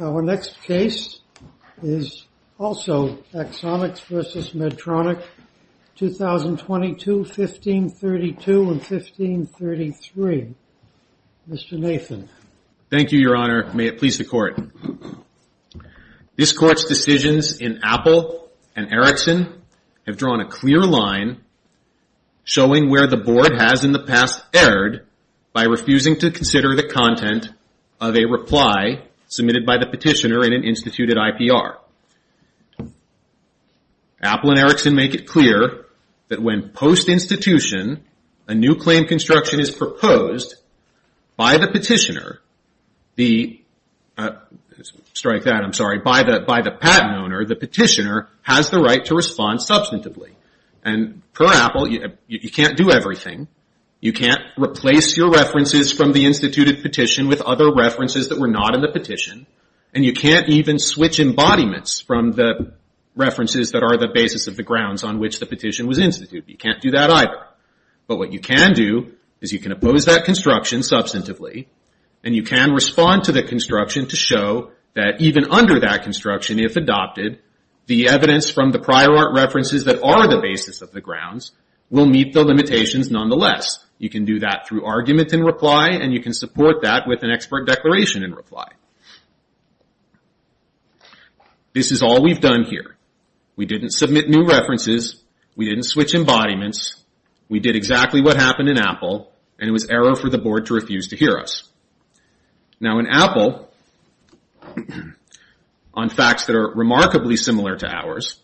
Our next case is also Axonics v. Medtronic, 2022, 1532 and 1533. Mr. Nathan. Thank you, Your Honor. May it please the Court. This Court's decisions in Apple and Erickson have drawn a clear line showing where the Board has in the past erred by refusing to consider the content of a reply submitted by the petitioner in an instituted IPR. Apple and Erickson make it clear that when post-institution, a new claim construction is proposed by the petitioner, by the patent owner, the petitioner has the right to respond substantively. And per Apple, you can't do everything. You can't replace your references from the instituted petition with other references that were not in the petition, and you can't even switch embodiments from the references that are the basis of the grounds on which the petition was instituted. You can't do that either. But what you can do is you can oppose that construction substantively, and you can respond to the construction to show that even under that construction, if adopted, the evidence from the prior art references that are the basis of the grounds will meet the limitations nonetheless. You can do that through argument in reply, and you can support that with an expert declaration in reply. This is all we've done here. We didn't submit new references. We didn't switch embodiments. We did exactly what happened in Apple, and it was error for the Board to refuse to hear us. Now in Apple, on facts that are remarkably similar to ours,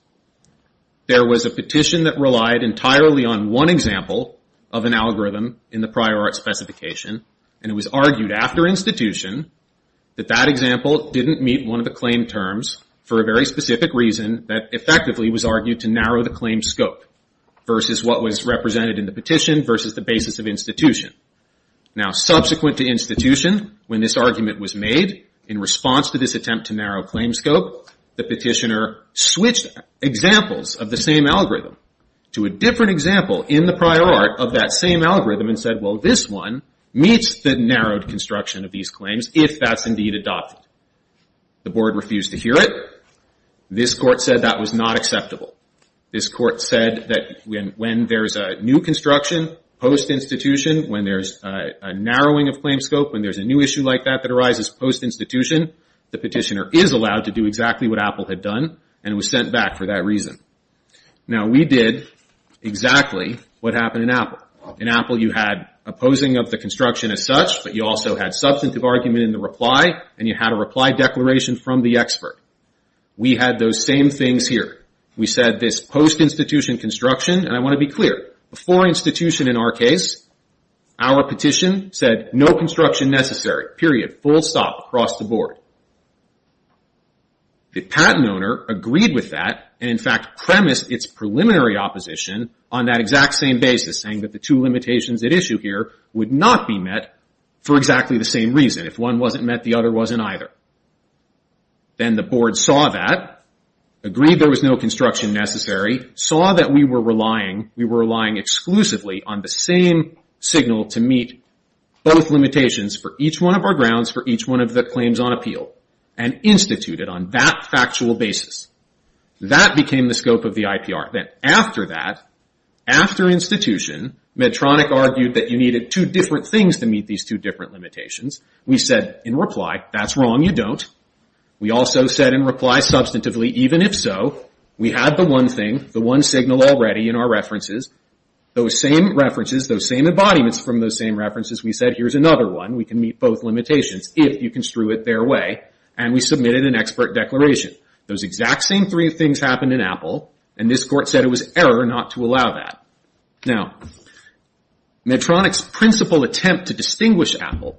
there was a petition that relied entirely on one example of an algorithm in the prior art specification, and it was argued after institution that that example didn't meet one of the claim terms for a very specific reason that effectively was argued to narrow the claim scope versus what was represented in the petition versus the basis of institution. Now subsequent to institution, when this argument was made, in response to this attempt to narrow claim scope, the petitioner switched examples of the same algorithm to a different example in the prior art of that same algorithm and said, well, this one meets the narrowed construction of these claims if that's indeed adopted. The Board refused to hear it. This court said that was not acceptable. This court said that when there's a new construction post-institution, when there's a narrowing of claim scope, when there's a new issue like that that arises post-institution, the petitioner is allowed to do exactly what Apple had done and was sent back for that reason. Now we did exactly what happened in Apple. In Apple, you had opposing of the construction as such, but you also had substantive argument in the reply, and you had a reply declaration from the expert. We had those same things here. We said this post-institution construction, and I want to be clear, before institution in our case, our petition said no construction necessary, period. Full stop across the board. The patent owner agreed with that and in fact premised its preliminary opposition on that exact same basis, saying that the two limitations at issue here would not be met for exactly the same reason. If one wasn't met, the other wasn't either. Then the Board saw that, agreed there was no construction necessary, saw that we were relying exclusively on the same signal to meet both limitations for each one of our grounds, for each one of the claims on appeal, and instituted on that factual basis. That became the scope of the IPR. Then after that, after institution, Medtronic argued that you needed two different things to meet these two different limitations. We said in reply, that's wrong, you don't. We also said in reply substantively, even if so, we had the one thing, the one signal already in our references, those same references, those same embodiments from those same references, we said here's another one, we can meet both limitations, if you construe it their way. And we submitted an expert declaration. Those exact same three things happened in Apple and this Court said it was error not to allow that. Now, Medtronic's principal attempt to distinguish Apple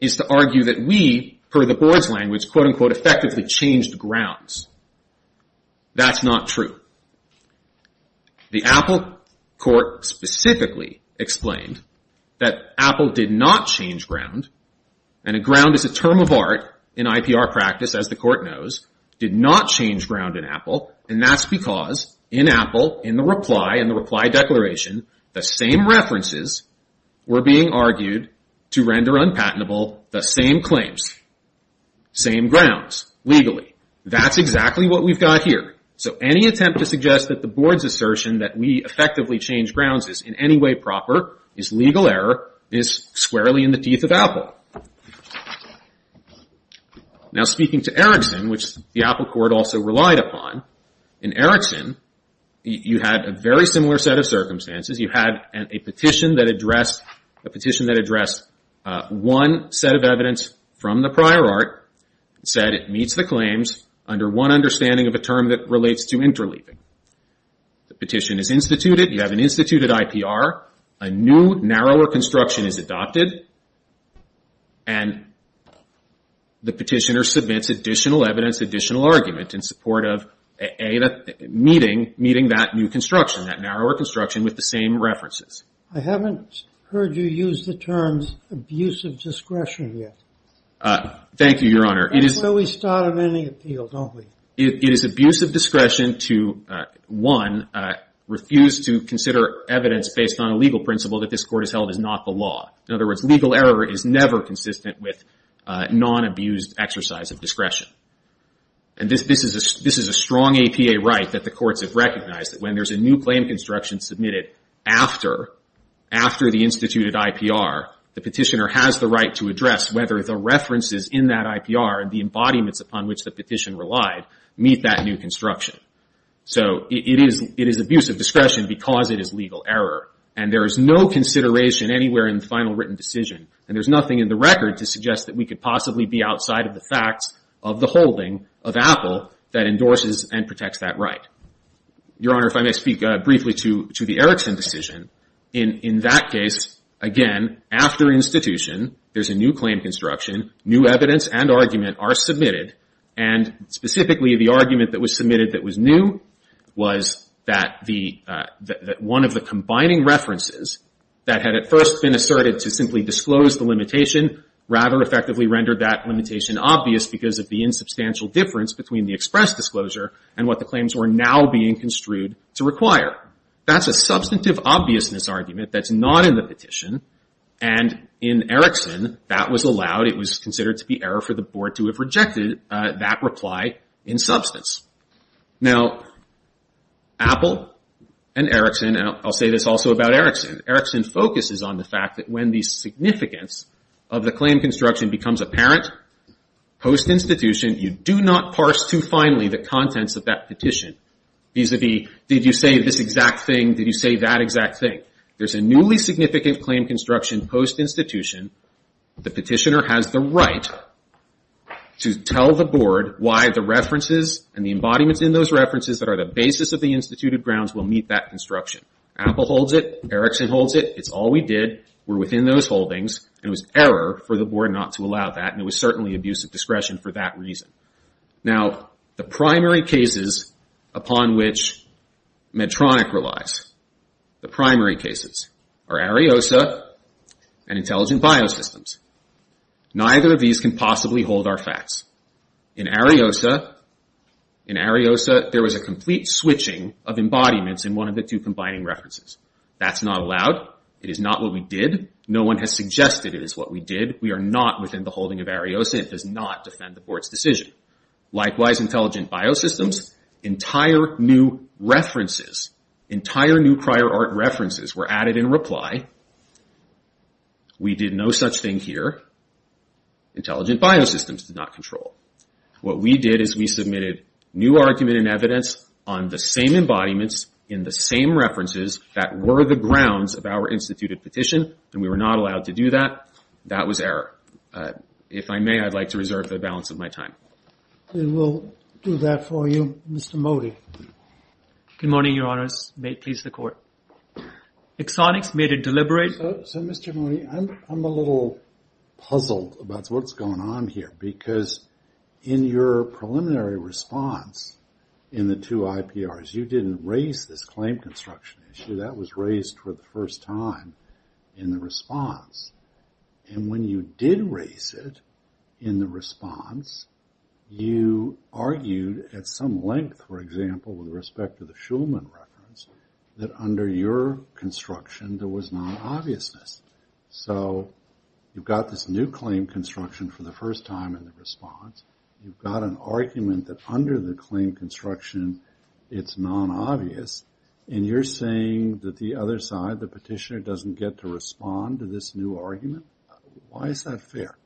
is to argue that we, per the Board's language, effectively changed grounds. That's not true. The Apple Court specifically explained that Apple did not change ground and a ground is a term of art in IPR practice, as the Court knows, did not change ground in Apple and that's because in Apple, in the reply, in the reply declaration, the same references were being argued to render unpatentable the same claims, same grounds, legally. That's exactly what we've got here. So, any attempt to suggest that the Board's assertion that we effectively changed grounds is in any way proper, is legal error, is squarely in the teeth of Apple. Now, speaking to Erickson, which the Apple Court also relied upon, a petition that addressed one set of evidence from the prior art and said it meets the claims under one understanding of a term that relates to interleaving. The petition is instituted. You have an instituted IPR. A new, narrower construction is adopted and the petitioner submits additional evidence, additional argument, in support of meeting that new construction, that narrower construction, with the same references. I haven't heard you use the terms abusive discretion yet. Thank you, Your Honor. We start on any appeal, don't we? It is abusive discretion to, one, refuse to consider evidence based on a legal principle that this Court has held is not the law. In other words, legal error is never consistent with non-abused exercise of discretion. And this is a strong APA right that the Courts have recognized, that when there's a new claim construction submitted after the instituted IPR, the petitioner has the right to address whether the references in that IPR and the embodiments upon which the petition relied meet that new construction. So it is abusive discretion because it is legal error, and there is no consideration anywhere in the final written decision, and there's nothing in the record to suggest that we could possibly be outside of the facts of the holding of Apple that endorses and protects that right. Your Honor, if I may speak briefly to the Erickson decision, in that case, again, after institution, there's a new claim construction, new evidence and argument are submitted, and specifically the argument that was submitted that was new was that one of the combining references that had at first been asserted to simply disclose the limitation rather effectively rendered that limitation obvious because of the insubstantial difference between the express disclosure and what the claims were now being construed to require. That's a substantive obviousness argument that's not in the petition, and in Erickson, that was allowed. It was considered to be error for the Board to have rejected that reply in substance. Now, Apple and Erickson, and I'll say this also about Erickson, Erickson focuses on the fact that when the significance of the claim construction becomes apparent post-institution, you do not parse too finely the contents of that petition, vis-a-vis did you say this exact thing, did you say that exact thing. There's a newly significant claim construction post-institution. The petitioner has the right to tell the Board why the references and the embodiments in those references that are the basis of the instituted grounds will meet that construction. Apple holds it. Erickson holds it. It's all we did. We're within those holdings, and it was error for the Board not to allow that, and it was certainly abuse of discretion for that reason. Now, the primary cases upon which Medtronic relies, the primary cases, are Ariosa and Intelligent Biosystems. Neither of these can possibly hold our facts. In Ariosa, there was a complete switching of embodiments in one of the two combining references. That's not allowed. It is not what we did. No one has suggested it is what we did. We are not within the holding of Ariosa. It does not defend the Board's decision. Likewise, Intelligent Biosystems, entire new references, entire new prior art references were added in reply. We did no such thing here. Intelligent Biosystems did not control. What we did is we submitted new argument and evidence on the same embodiments in the same references that were the grounds of our instituted petition, and we were not allowed to do that. That was error. If I may, I'd like to reserve the balance of my time. We will do that for you. Mr. Mody. Good morning, Your Honors. May it please the Court. Exonix made it deliberate. So, Mr. Mody, I'm a little puzzled about what's going on here because in your preliminary response in the two IPRs, you didn't raise this claim construction issue. That was raised for the first time in the response. And when you did raise it in the response, you argued at some length, for example, with respect to the Shulman reference, that under your construction there was non-obviousness. So you've got this new claim construction for the first time in the response. You've got an argument that under the claim construction it's non-obvious. And you're saying that the other side, the petitioner, doesn't get to respond to this new argument? Why is that fair?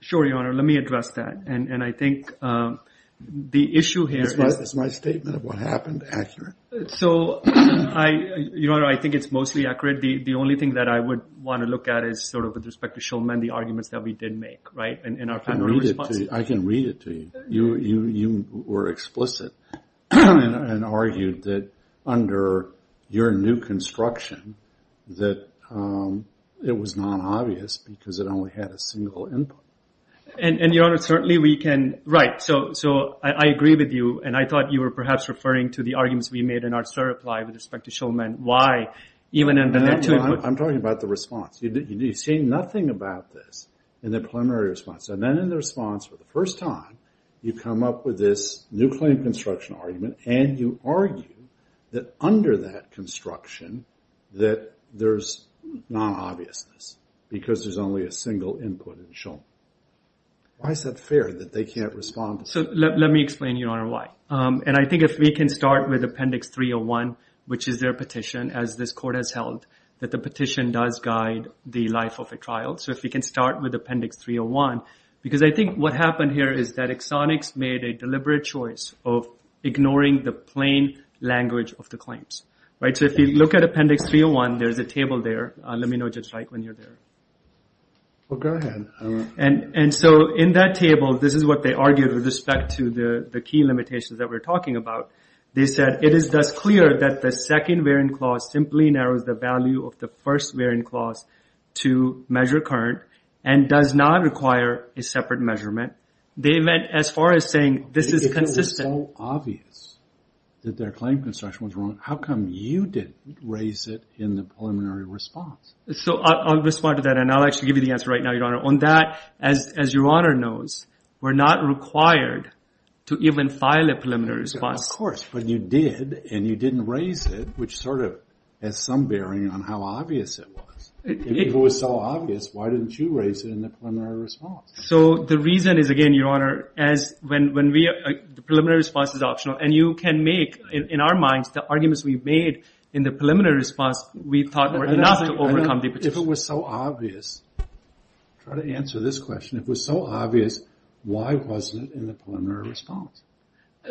Sure, Your Honor. Let me address that. And I think the issue here... It's my statement of what happened, accurate. So, Your Honor, I think it's mostly accurate. The only thing that I would want to look at is sort of with respect to Shulman, the arguments that we did make, right, in our primary response. I can read it to you. You were explicit and argued that under your new construction that it was non-obvious because it only had a single input. And, Your Honor, certainly we can... Right, so I agree with you. And I thought you were perhaps referring to the arguments we made in our third reply with respect to Shulman. Why, even under the two... I'm talking about the response. You've seen nothing about this in the preliminary response. And then in the response for the first time, you come up with this new claim construction argument and you argue that under that construction that there's non-obviousness because there's only a single input in Shulman. Why is that fair that they can't respond to... So, let me explain, Your Honor, why. And I think if we can start with Appendix 301, which is their petition, as this Court has held, that the petition does guide the life of a trial. So if we can start with Appendix 301, because I think what happened here is that Exonix made a deliberate choice of ignoring the plain language of the claims. So if you look at Appendix 301, there's a table there. Let me know just right when you're there. Well, go ahead. And so in that table, this is what they argued with respect to the key limitations that we're talking about. They said, it is thus clear that the second variant clause simply narrows the value of the first variant clause to measure current and does not require a separate measurement. They meant, as far as saying, this is consistent... If it was so obvious that their claim construction was wrong, how come you didn't raise it in the preliminary response? So I'll respond to that, and I'll actually give you the answer right now, Your Honor. On that, as Your Honor knows, we're not required to even file a preliminary response. Of course, but you did, and you didn't raise it, which sort of has some bearing on how obvious it was. If it was so obvious, why didn't you raise it in the preliminary response? So the reason is, again, Your Honor, as when we... the preliminary response is optional, and you can make, in our minds, the arguments we've made in the preliminary response we thought were enough to overcome the... If it was so obvious... Try to answer this question. If it was so obvious, why wasn't it in the preliminary response?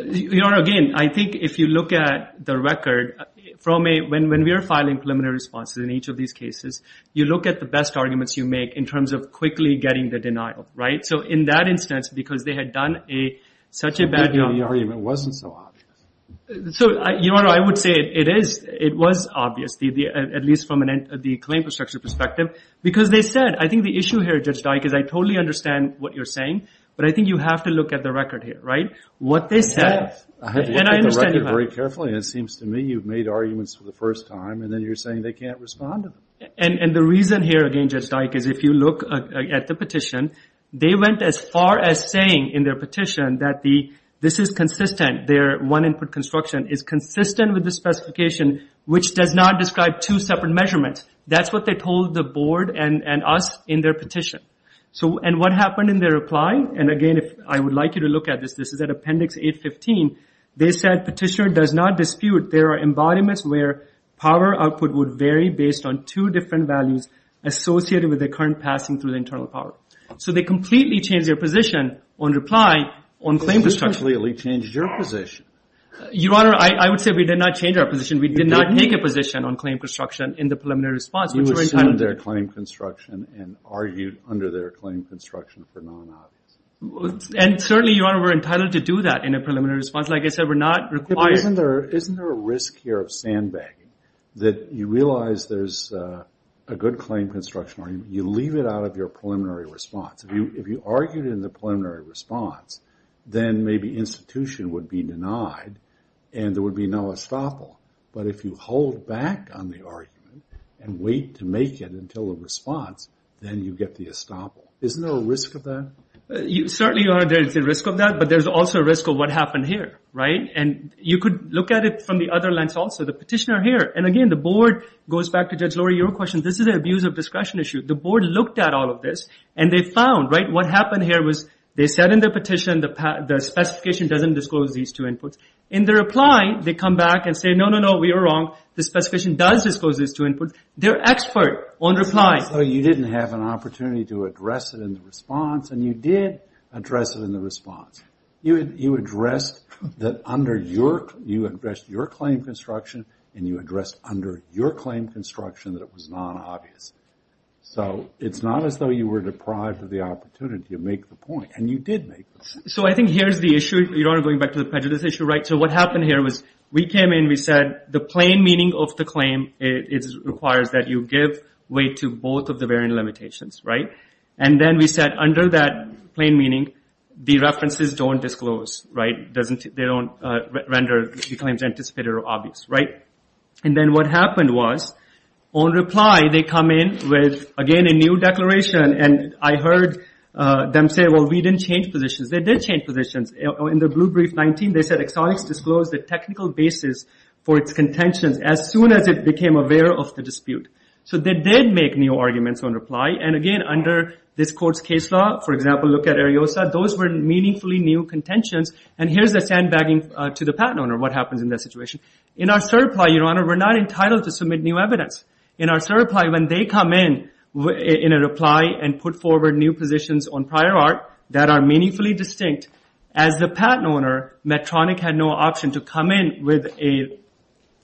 Your Honor, again, I think if you look at the record, from a... when we are filing preliminary responses in each of these cases, you look at the best arguments you make in terms of quickly getting the denial, right? So in that instance, because they had done such a bad job... So maybe the argument wasn't so obvious. So, Your Honor, I would say it is... it was obvious, at least from the claim construction perspective, because they said... I think the issue here, Judge Dike, is I totally understand what you're saying, but I think you have to look at the record here, right? What they said... Very carefully, and it seems to me you've made arguments for the first time, and then you're saying they can't respond to them. And the reason here, again, Judge Dike, is if you look at the petition, they went as far as saying in their petition that this is consistent, their one-input construction is consistent with the specification, which does not describe two separate measurements. That's what they told the Board and us in their petition. And what happened in their reply? And again, I would like you to look at this. This is at Appendix 815. They said, Petitioner does not dispute there are embodiments where power output would vary based on two different values associated with the current passing through the internal power. So they completely changed their position on reply on claim construction. They completely changed your position. Your Honor, I would say we did not change our position. We did not make a position on claim construction in the preliminary response. You assumed their claim construction and argued under their claim construction for non-obvious. And certainly, Your Honor, we're entitled to do that in a preliminary response. Like I said, we're not required... Isn't there a risk here of sandbagging that you realize there's a good claim construction or you leave it out of your preliminary response? If you argued in the preliminary response, then maybe institution would be denied and there would be no estoppel. But if you hold back on the argument and wait to make it until the response, then you get the estoppel. Isn't there a risk of that? Certainly, Your Honor, there's a risk of that. But there's also a risk of what happened here, right? And you could look at it from the other lens also. The petitioner here... And again, the board goes back to Judge Lurie. Your question, this is an abuse of discretion issue. The board looked at all of this and they found, right, what happened here was they said in their petition the specification doesn't disclose these two inputs. In their reply, they come back and say, no, no, no, we are wrong. The specification does disclose these two inputs. They're expert on reply. So you didn't have an opportunity to address it in the response, and you did address it in the response. You addressed that under your... You addressed your claim construction and you addressed under your claim construction that it was non-obvious. So it's not as though you were deprived of the opportunity to make the point, and you did make the point. So I think here's the issue. Your Honor, going back to the prejudice issue, right? So what happened here was we came in, we said the plain meaning of the claim requires that you give way to both of the variant limitations, right? And then we said under that plain meaning, the references don't disclose, right? They don't render the claims anticipated or obvious, right? And then what happened was on reply, they come in with, again, a new declaration, and I heard them say, well, we didn't change positions. They did change positions. In the blue brief 19, they said Exotics disclosed the technical basis for its contentions as soon as it became aware of the dispute. So they did make new arguments on reply, and again, under this court's case law, for example, look at Ariosa. Those were meaningfully new contentions, and here's the sandbagging to the patent owner, what happens in that situation. In our cert apply, Your Honor, we're not entitled to submit new evidence. In our cert apply, when they come in in a reply and put forward new positions on prior art that are meaningfully distinct, as the patent owner, Medtronic had no option to come in with a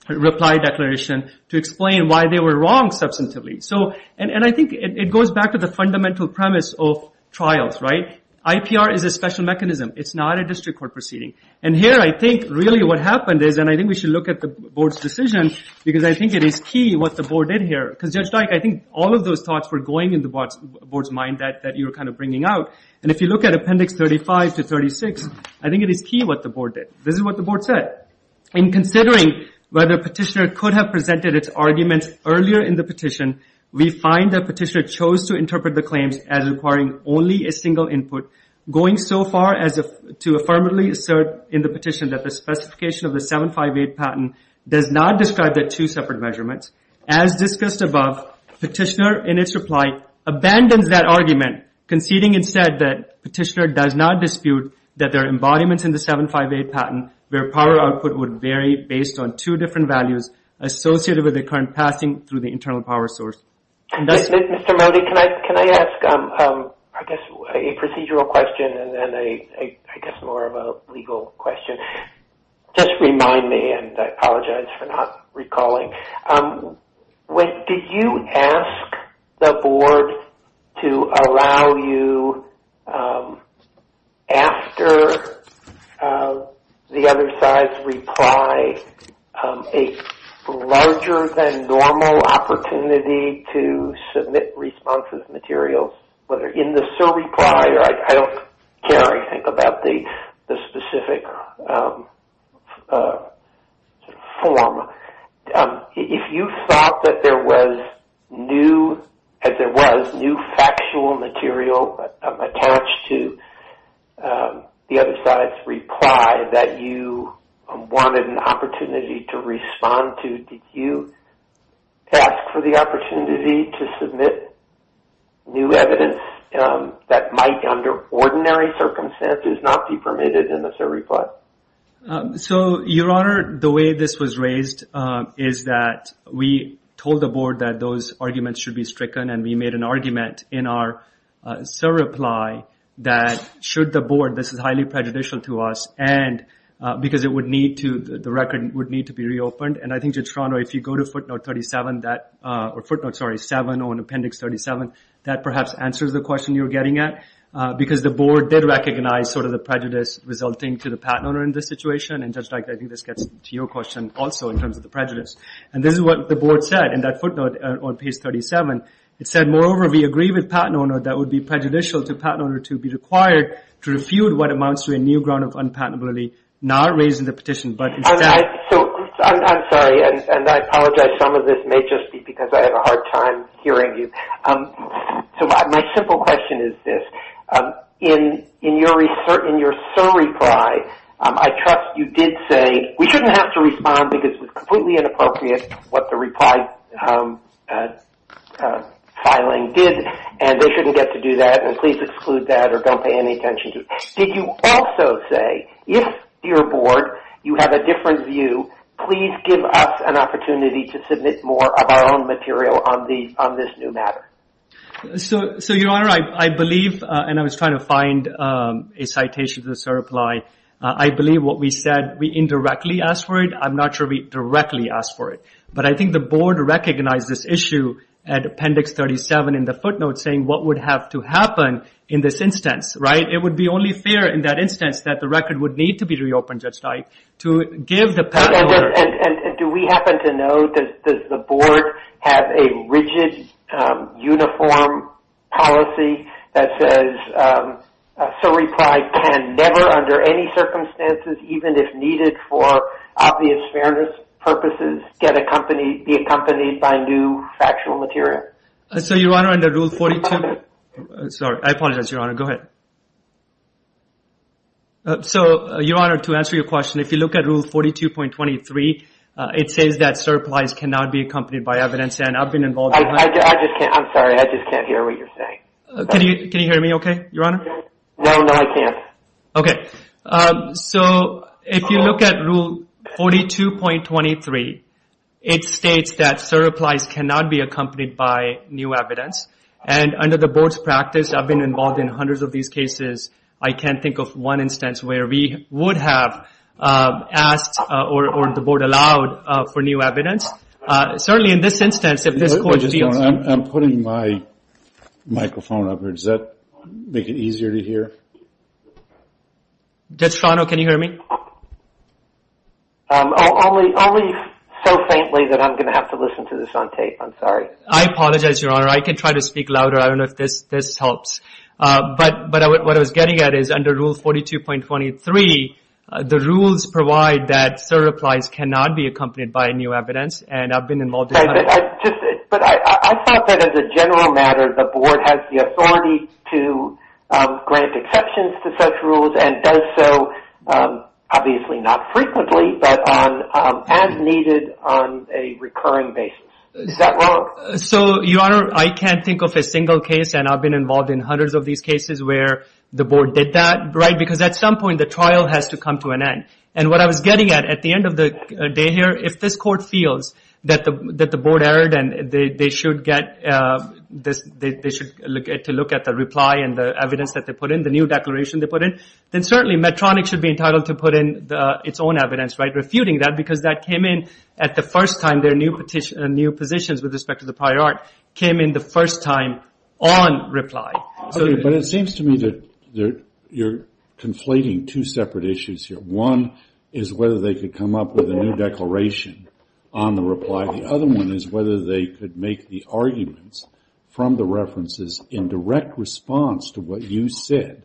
reply declaration to explain why they were wrong substantively. And I think it goes back to the fundamental premise of trials, right? IPR is a special mechanism. It's not a district court proceeding, and here I think really what happened is, and I think we should look at the board's decision, because I think it is key what the board did here, because Judge Dyke, I think all of those thoughts were going in the board's mind that you were kind of bringing out, and if you look at appendix 35 to 36, I think it is key what the board did. This is what the board said. In considering whether a petitioner could have presented its arguments earlier in the petition, we find that petitioner chose to interpret the claims as requiring only a single input, going so far as to affirmatively assert in the petition that the specification of the 758 patent does not describe the two separate measurements. As discussed above, petitioner, in its reply, abandons that argument, conceding instead that petitioner does not dispute that there are embodiments in the 758 patent where power output would vary based on two different values associated with the current passing through the internal power source. Mr. Modi, can I ask a procedural question and then I guess more of a legal question? Just remind me, and I apologize for not recalling. Did you ask the board to allow you, after the other side's reply, a larger-than-normal opportunity to submit responses materials, whether in the sur-repli or I don't care, I think, about the specific form. If you thought that there was new, as there was new factual material attached to the other side's reply that you wanted an opportunity to respond to, did you ask for the opportunity to submit new evidence that might, under ordinary circumstances, not be permitted in the sur-repli? Your Honor, the way this was raised is that we told the board that those arguments should be stricken and we made an argument in our sur-repli that should the board, this is highly prejudicial to us, because the record would need to be reopened, and I think, Judge Toronto, if you go to footnote 37, or footnote 7 on appendix 37, that perhaps answers the question you were getting at, because the board did recognize the prejudice resulting to the patent owner in this situation, and Judge Dyke, I think this gets to your question also in terms of the prejudice. And this is what the board said, in that footnote on page 37. It said, Moreover, we agree with patent owner that it would be prejudicial to patent owner to be required to refute what amounts to a new ground of unpatentability, not raising the petition, but instead... I'm sorry, and I apologize. Some of this may just be because I have a hard time hearing you. So my simple question is this. In your sur-repli, I trust you did say, we shouldn't have to respond because it was completely inappropriate what the reply filing did, and they shouldn't get to do that, and please exclude that, or don't pay any attention to it. Did you also say, if your board, you have a different view, please give us an opportunity to submit more of our own material on this new matter? So, Your Honor, I believe, and I was trying to find a citation for the sur-repli. I believe what we said, we indirectly asked for it. I'm not sure we directly asked for it. But I think the board recognized this issue at Appendix 37 in the footnote, saying what would have to happen in this instance, right? It would be only fair in that instance that the record would need to be reopened, Judge Teich, to give the... And do we happen to know, does the board have a rigid, uniform policy that says sur-repli can never, under any circumstances, even if needed for obvious fairness purposes, get accompanied, be accompanied by new factual material? So, Your Honor, under Rule 42... Sorry, I apologize, Your Honor. Go ahead. So, Your Honor, to answer your question, if you look at Rule 42.23, it says that sur-replis cannot be accompanied by evidence, and I've been involved... I just can't, I'm sorry, I just can't hear what you're saying. Can you hear me okay, Your Honor? No, no, I can't. Okay. So, if you look at Rule 42.23, it states that sur-replis cannot be accompanied by new evidence, and under the board's practice, I've been involved in hundreds of these cases. I can't think of one instance where we would have asked, or the board allowed, for new evidence. Certainly in this instance, if this court feels... I'm putting my microphone up here. Does that make it easier to hear? Judge Strano, can you hear me? Only so faintly that I'm going to have to listen to this on tape. I'm sorry. I apologize, Your Honor. I can try to speak louder. I don't know if this helps. But what I was getting at is, under Rule 42.23, the rules provide that sur-replis cannot be accompanied by new evidence, and I've been involved in hundreds... But I thought that as a general matter, the board has the authority to grant exceptions to such rules, and does so, obviously not frequently, but as needed on a recurring basis. Is that wrong? So, Your Honor, I can't think of a single case, and I've been involved in hundreds of these cases where the board did that, because at some point, the trial has to come to an end. And what I was getting at, at the end of the day here, if this court feels that the board erred and they should look at the reply and the evidence that they put in, the new declaration they put in, then certainly Medtronic should be entitled to put in its own evidence, right? Refuting that, because that came in at the first time their new positions with respect to the prior art came in the first time on reply. But it seems to me that you're conflating two separate issues here. One is whether they could come up with a new declaration on the reply. The other one is whether they could make the arguments from the references in direct response to what you said.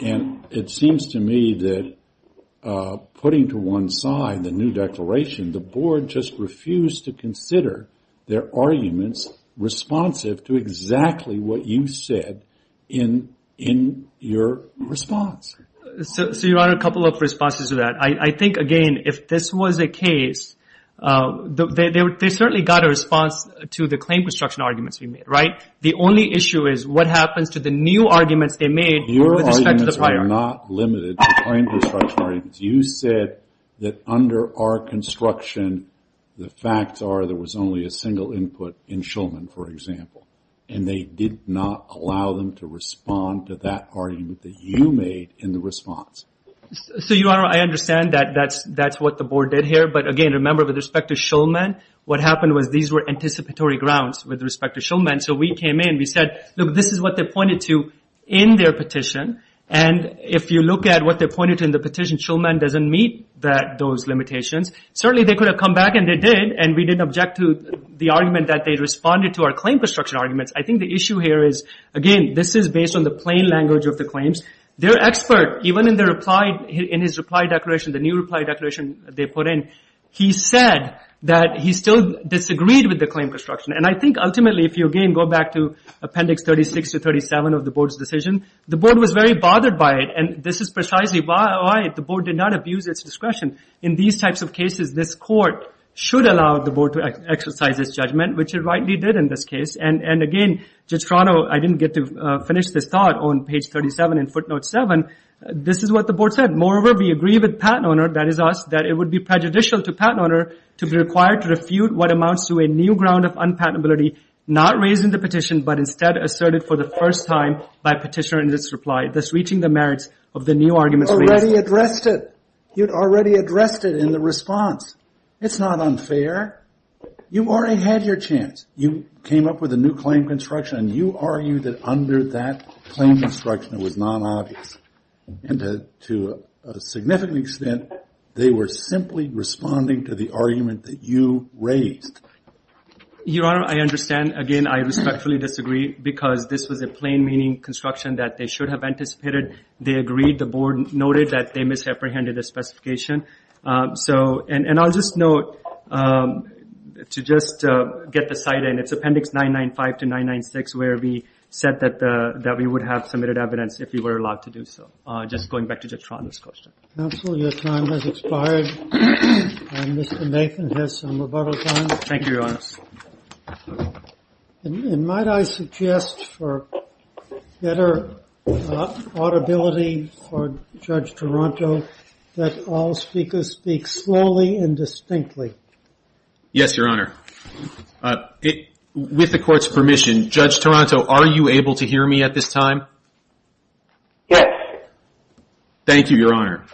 And it seems to me that putting to one side the new declaration, the board just refused to consider their arguments responsive to exactly what you said in your response. So, Your Honor, a couple of responses to that. I think, again, if this was a case, they certainly got a response to the claim construction arguments we made, right? The only issue is what happens to the new arguments they made with respect to the prior art. Your arguments are not limited to claim construction arguments. You said that under our construction, the facts are there was only a single input in Shulman, for example. And they did not allow them to respond to that argument that you made in the response. So, Your Honor, I understand that that's what the board did here. But, again, remember, with respect to Shulman, what happened was these were anticipatory grounds with respect to Shulman. So, we came in, we said, look, this is what they pointed to in their petition. And if you look at what they pointed to in the petition, Shulman doesn't meet those limitations. Certainly, they could have come back, and they did. And we didn't object to the argument that they responded to our claim construction arguments. I think the issue here is, again, this is based on the plain language of the claims. Their expert, even in his reply declaration, the new reply declaration they put in, he said that he still disagreed with the claim construction. And I think, ultimately, if you again go back to Appendix 36 to 37 of the board's decision, the board was very bothered by it. And this is precisely why the board did not abuse its discretion. In these types of cases, this court should allow the board to exercise its judgment, which it rightly did in this case. And, again, Judge Toronto, I didn't get to finish this thought on page 37 in footnote 7. This is what the board said. Moreover, we agree with Pat, Your Honor, that it would be prejudicial to Pat, Your Honor, to be required to refute what amounts to a new ground of unpatentability not raised in the petition, but instead asserted for the first time by petitioner in this reply, thus reaching the merits of the new arguments raised. You already addressed it. You already addressed it in the response. It's not unfair. You already had your chance. You came up with a new claim construction and you argued that under that claim construction it was non-obvious. And to a significant extent, they were simply responding to the argument that you raised. Your Honor, I understand. Again, I respectfully disagree because this was a plain meaning construction that they should have anticipated. They agreed. The board noted that they misapprehended the specification. So, and I'll just note to just get the site in. It's appendix 995 to 996 where we said that we would have submitted evidence if we were allowed to do so. Just going back to Judge Toronto's question. Counsel, your time has expired. Mr. Nathan has some rebuttals on. Thank you, Your Honor. And might I suggest for better audibility for Judge Toronto that all speakers speak slowly and distinctly. Yes, Your Honor. With the court's permission, Judge Toronto, are you able to hear me at this time? Yes. Thank you, Your Honor.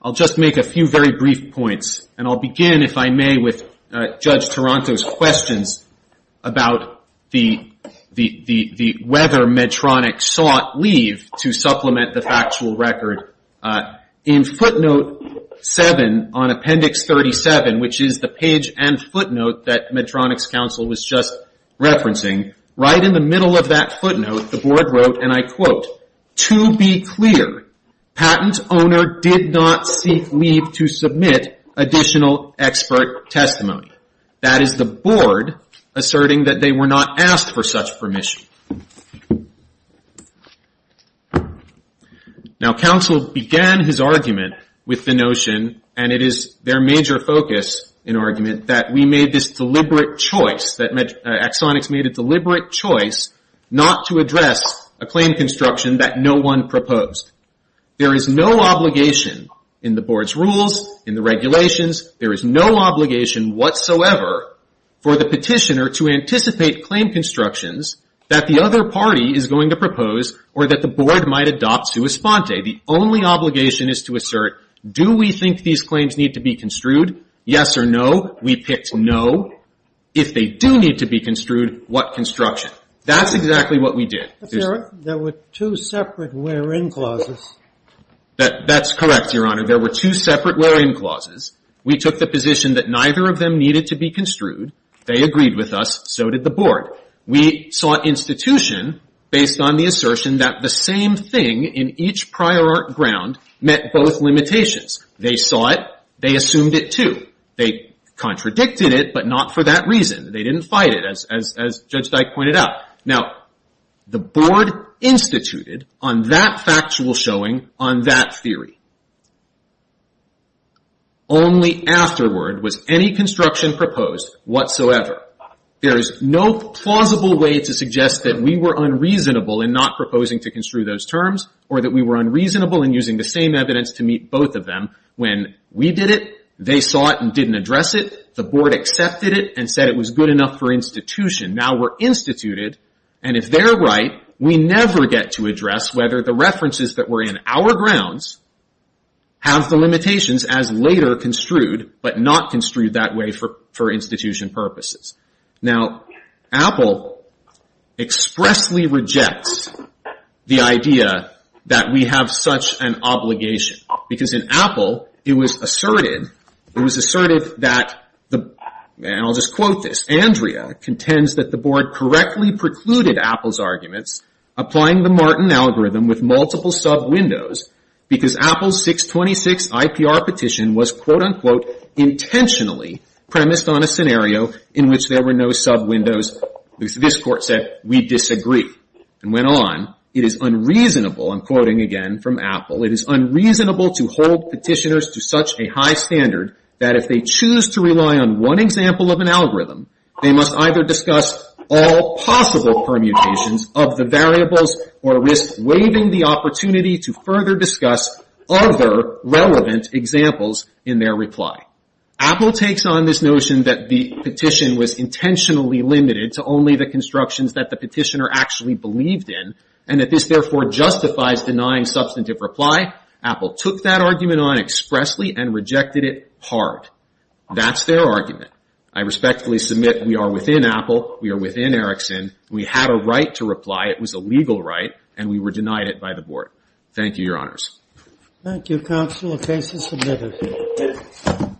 I'll just make a few very brief points. And I'll begin, if I may, with Judge Toronto's questions about the whether Medtronic sought leave to supplement the factual record. In footnote 7 on appendix 37, which is the page and footnote that Medtronic's counsel was just referencing, right in the middle of that footnote, the board wrote, and I quote, to be clear, patent owner did not seek leave to submit additional expert testimony. That is the board asserting that they were not asked for such permission. Now, counsel began his argument with the notion, and it is their major focus in argument, that we made this deliberate choice, that Axonix made a deliberate choice not to address a claim construction that no one proposed. There is no obligation in the board's rules, in the regulations, there is no obligation whatsoever for the petitioner to anticipate claim constructions that the other party is going to propose or that the board might adopt sua sponte. The only obligation is to assert, do we think these claims need to be construed? Yes or no? We picked no. If they do need to be construed, what construction? That's exactly what we did. There were two separate where-in clauses. That's correct, Your Honor. There were two separate where-in clauses. We took the position that neither of them needed to be construed. They agreed with us. So did the board. We sought institution based on the assertion that the same thing in each prior art ground met both limitations. They saw it. They assumed it, too. They contradicted it, but not for that reason. They didn't fight it, as Judge Dyke pointed out. Now, the board instituted on that factual showing, on that theory. Only afterward was any construction proposed whatsoever. There is no plausible way to suggest that we were unreasonable in not proposing to construe those terms or that we were unreasonable in using the same evidence to meet both of them. When we did it, they saw it and didn't address it. The board accepted it and said it was good enough for institution. Now we're instituted, and if they're right, we never get to address whether the references that were in our grounds have the limitations as later construed, but not construed that way for institution purposes. Now, Apple expressly rejects the idea that we have such an obligation. Because in Apple, it was asserted that, and I'll just quote this, Andrea contends that the board correctly precluded Apple's arguments applying the Martin algorithm with multiple sub-windows because Apple's 626 IPR petition was quote-unquote intentionally premised on a scenario in which there were no sub-windows. This court said, we disagree. And went on, it is unreasonable, I'm quoting again from Apple, it is unreasonable to hold petitioners to such a high standard that if they choose to rely on one example of an algorithm, they must either discuss all possible permutations of the variables or risk waiving the opportunity to further discuss other relevant examples in their reply. Apple takes on this notion that the petition was intentionally limited to only the constructions that the petitioner actually believed in and that this therefore justifies denying substantive reply. Apple took that argument on expressly and rejected it hard. That's their argument. I respectfully submit we are within Apple, we are within Erickson, we had a right to reply, it was a legal right, and we were denied it by the board. Thank you, Your Honors. Thank you, Counsel. The case is submitted.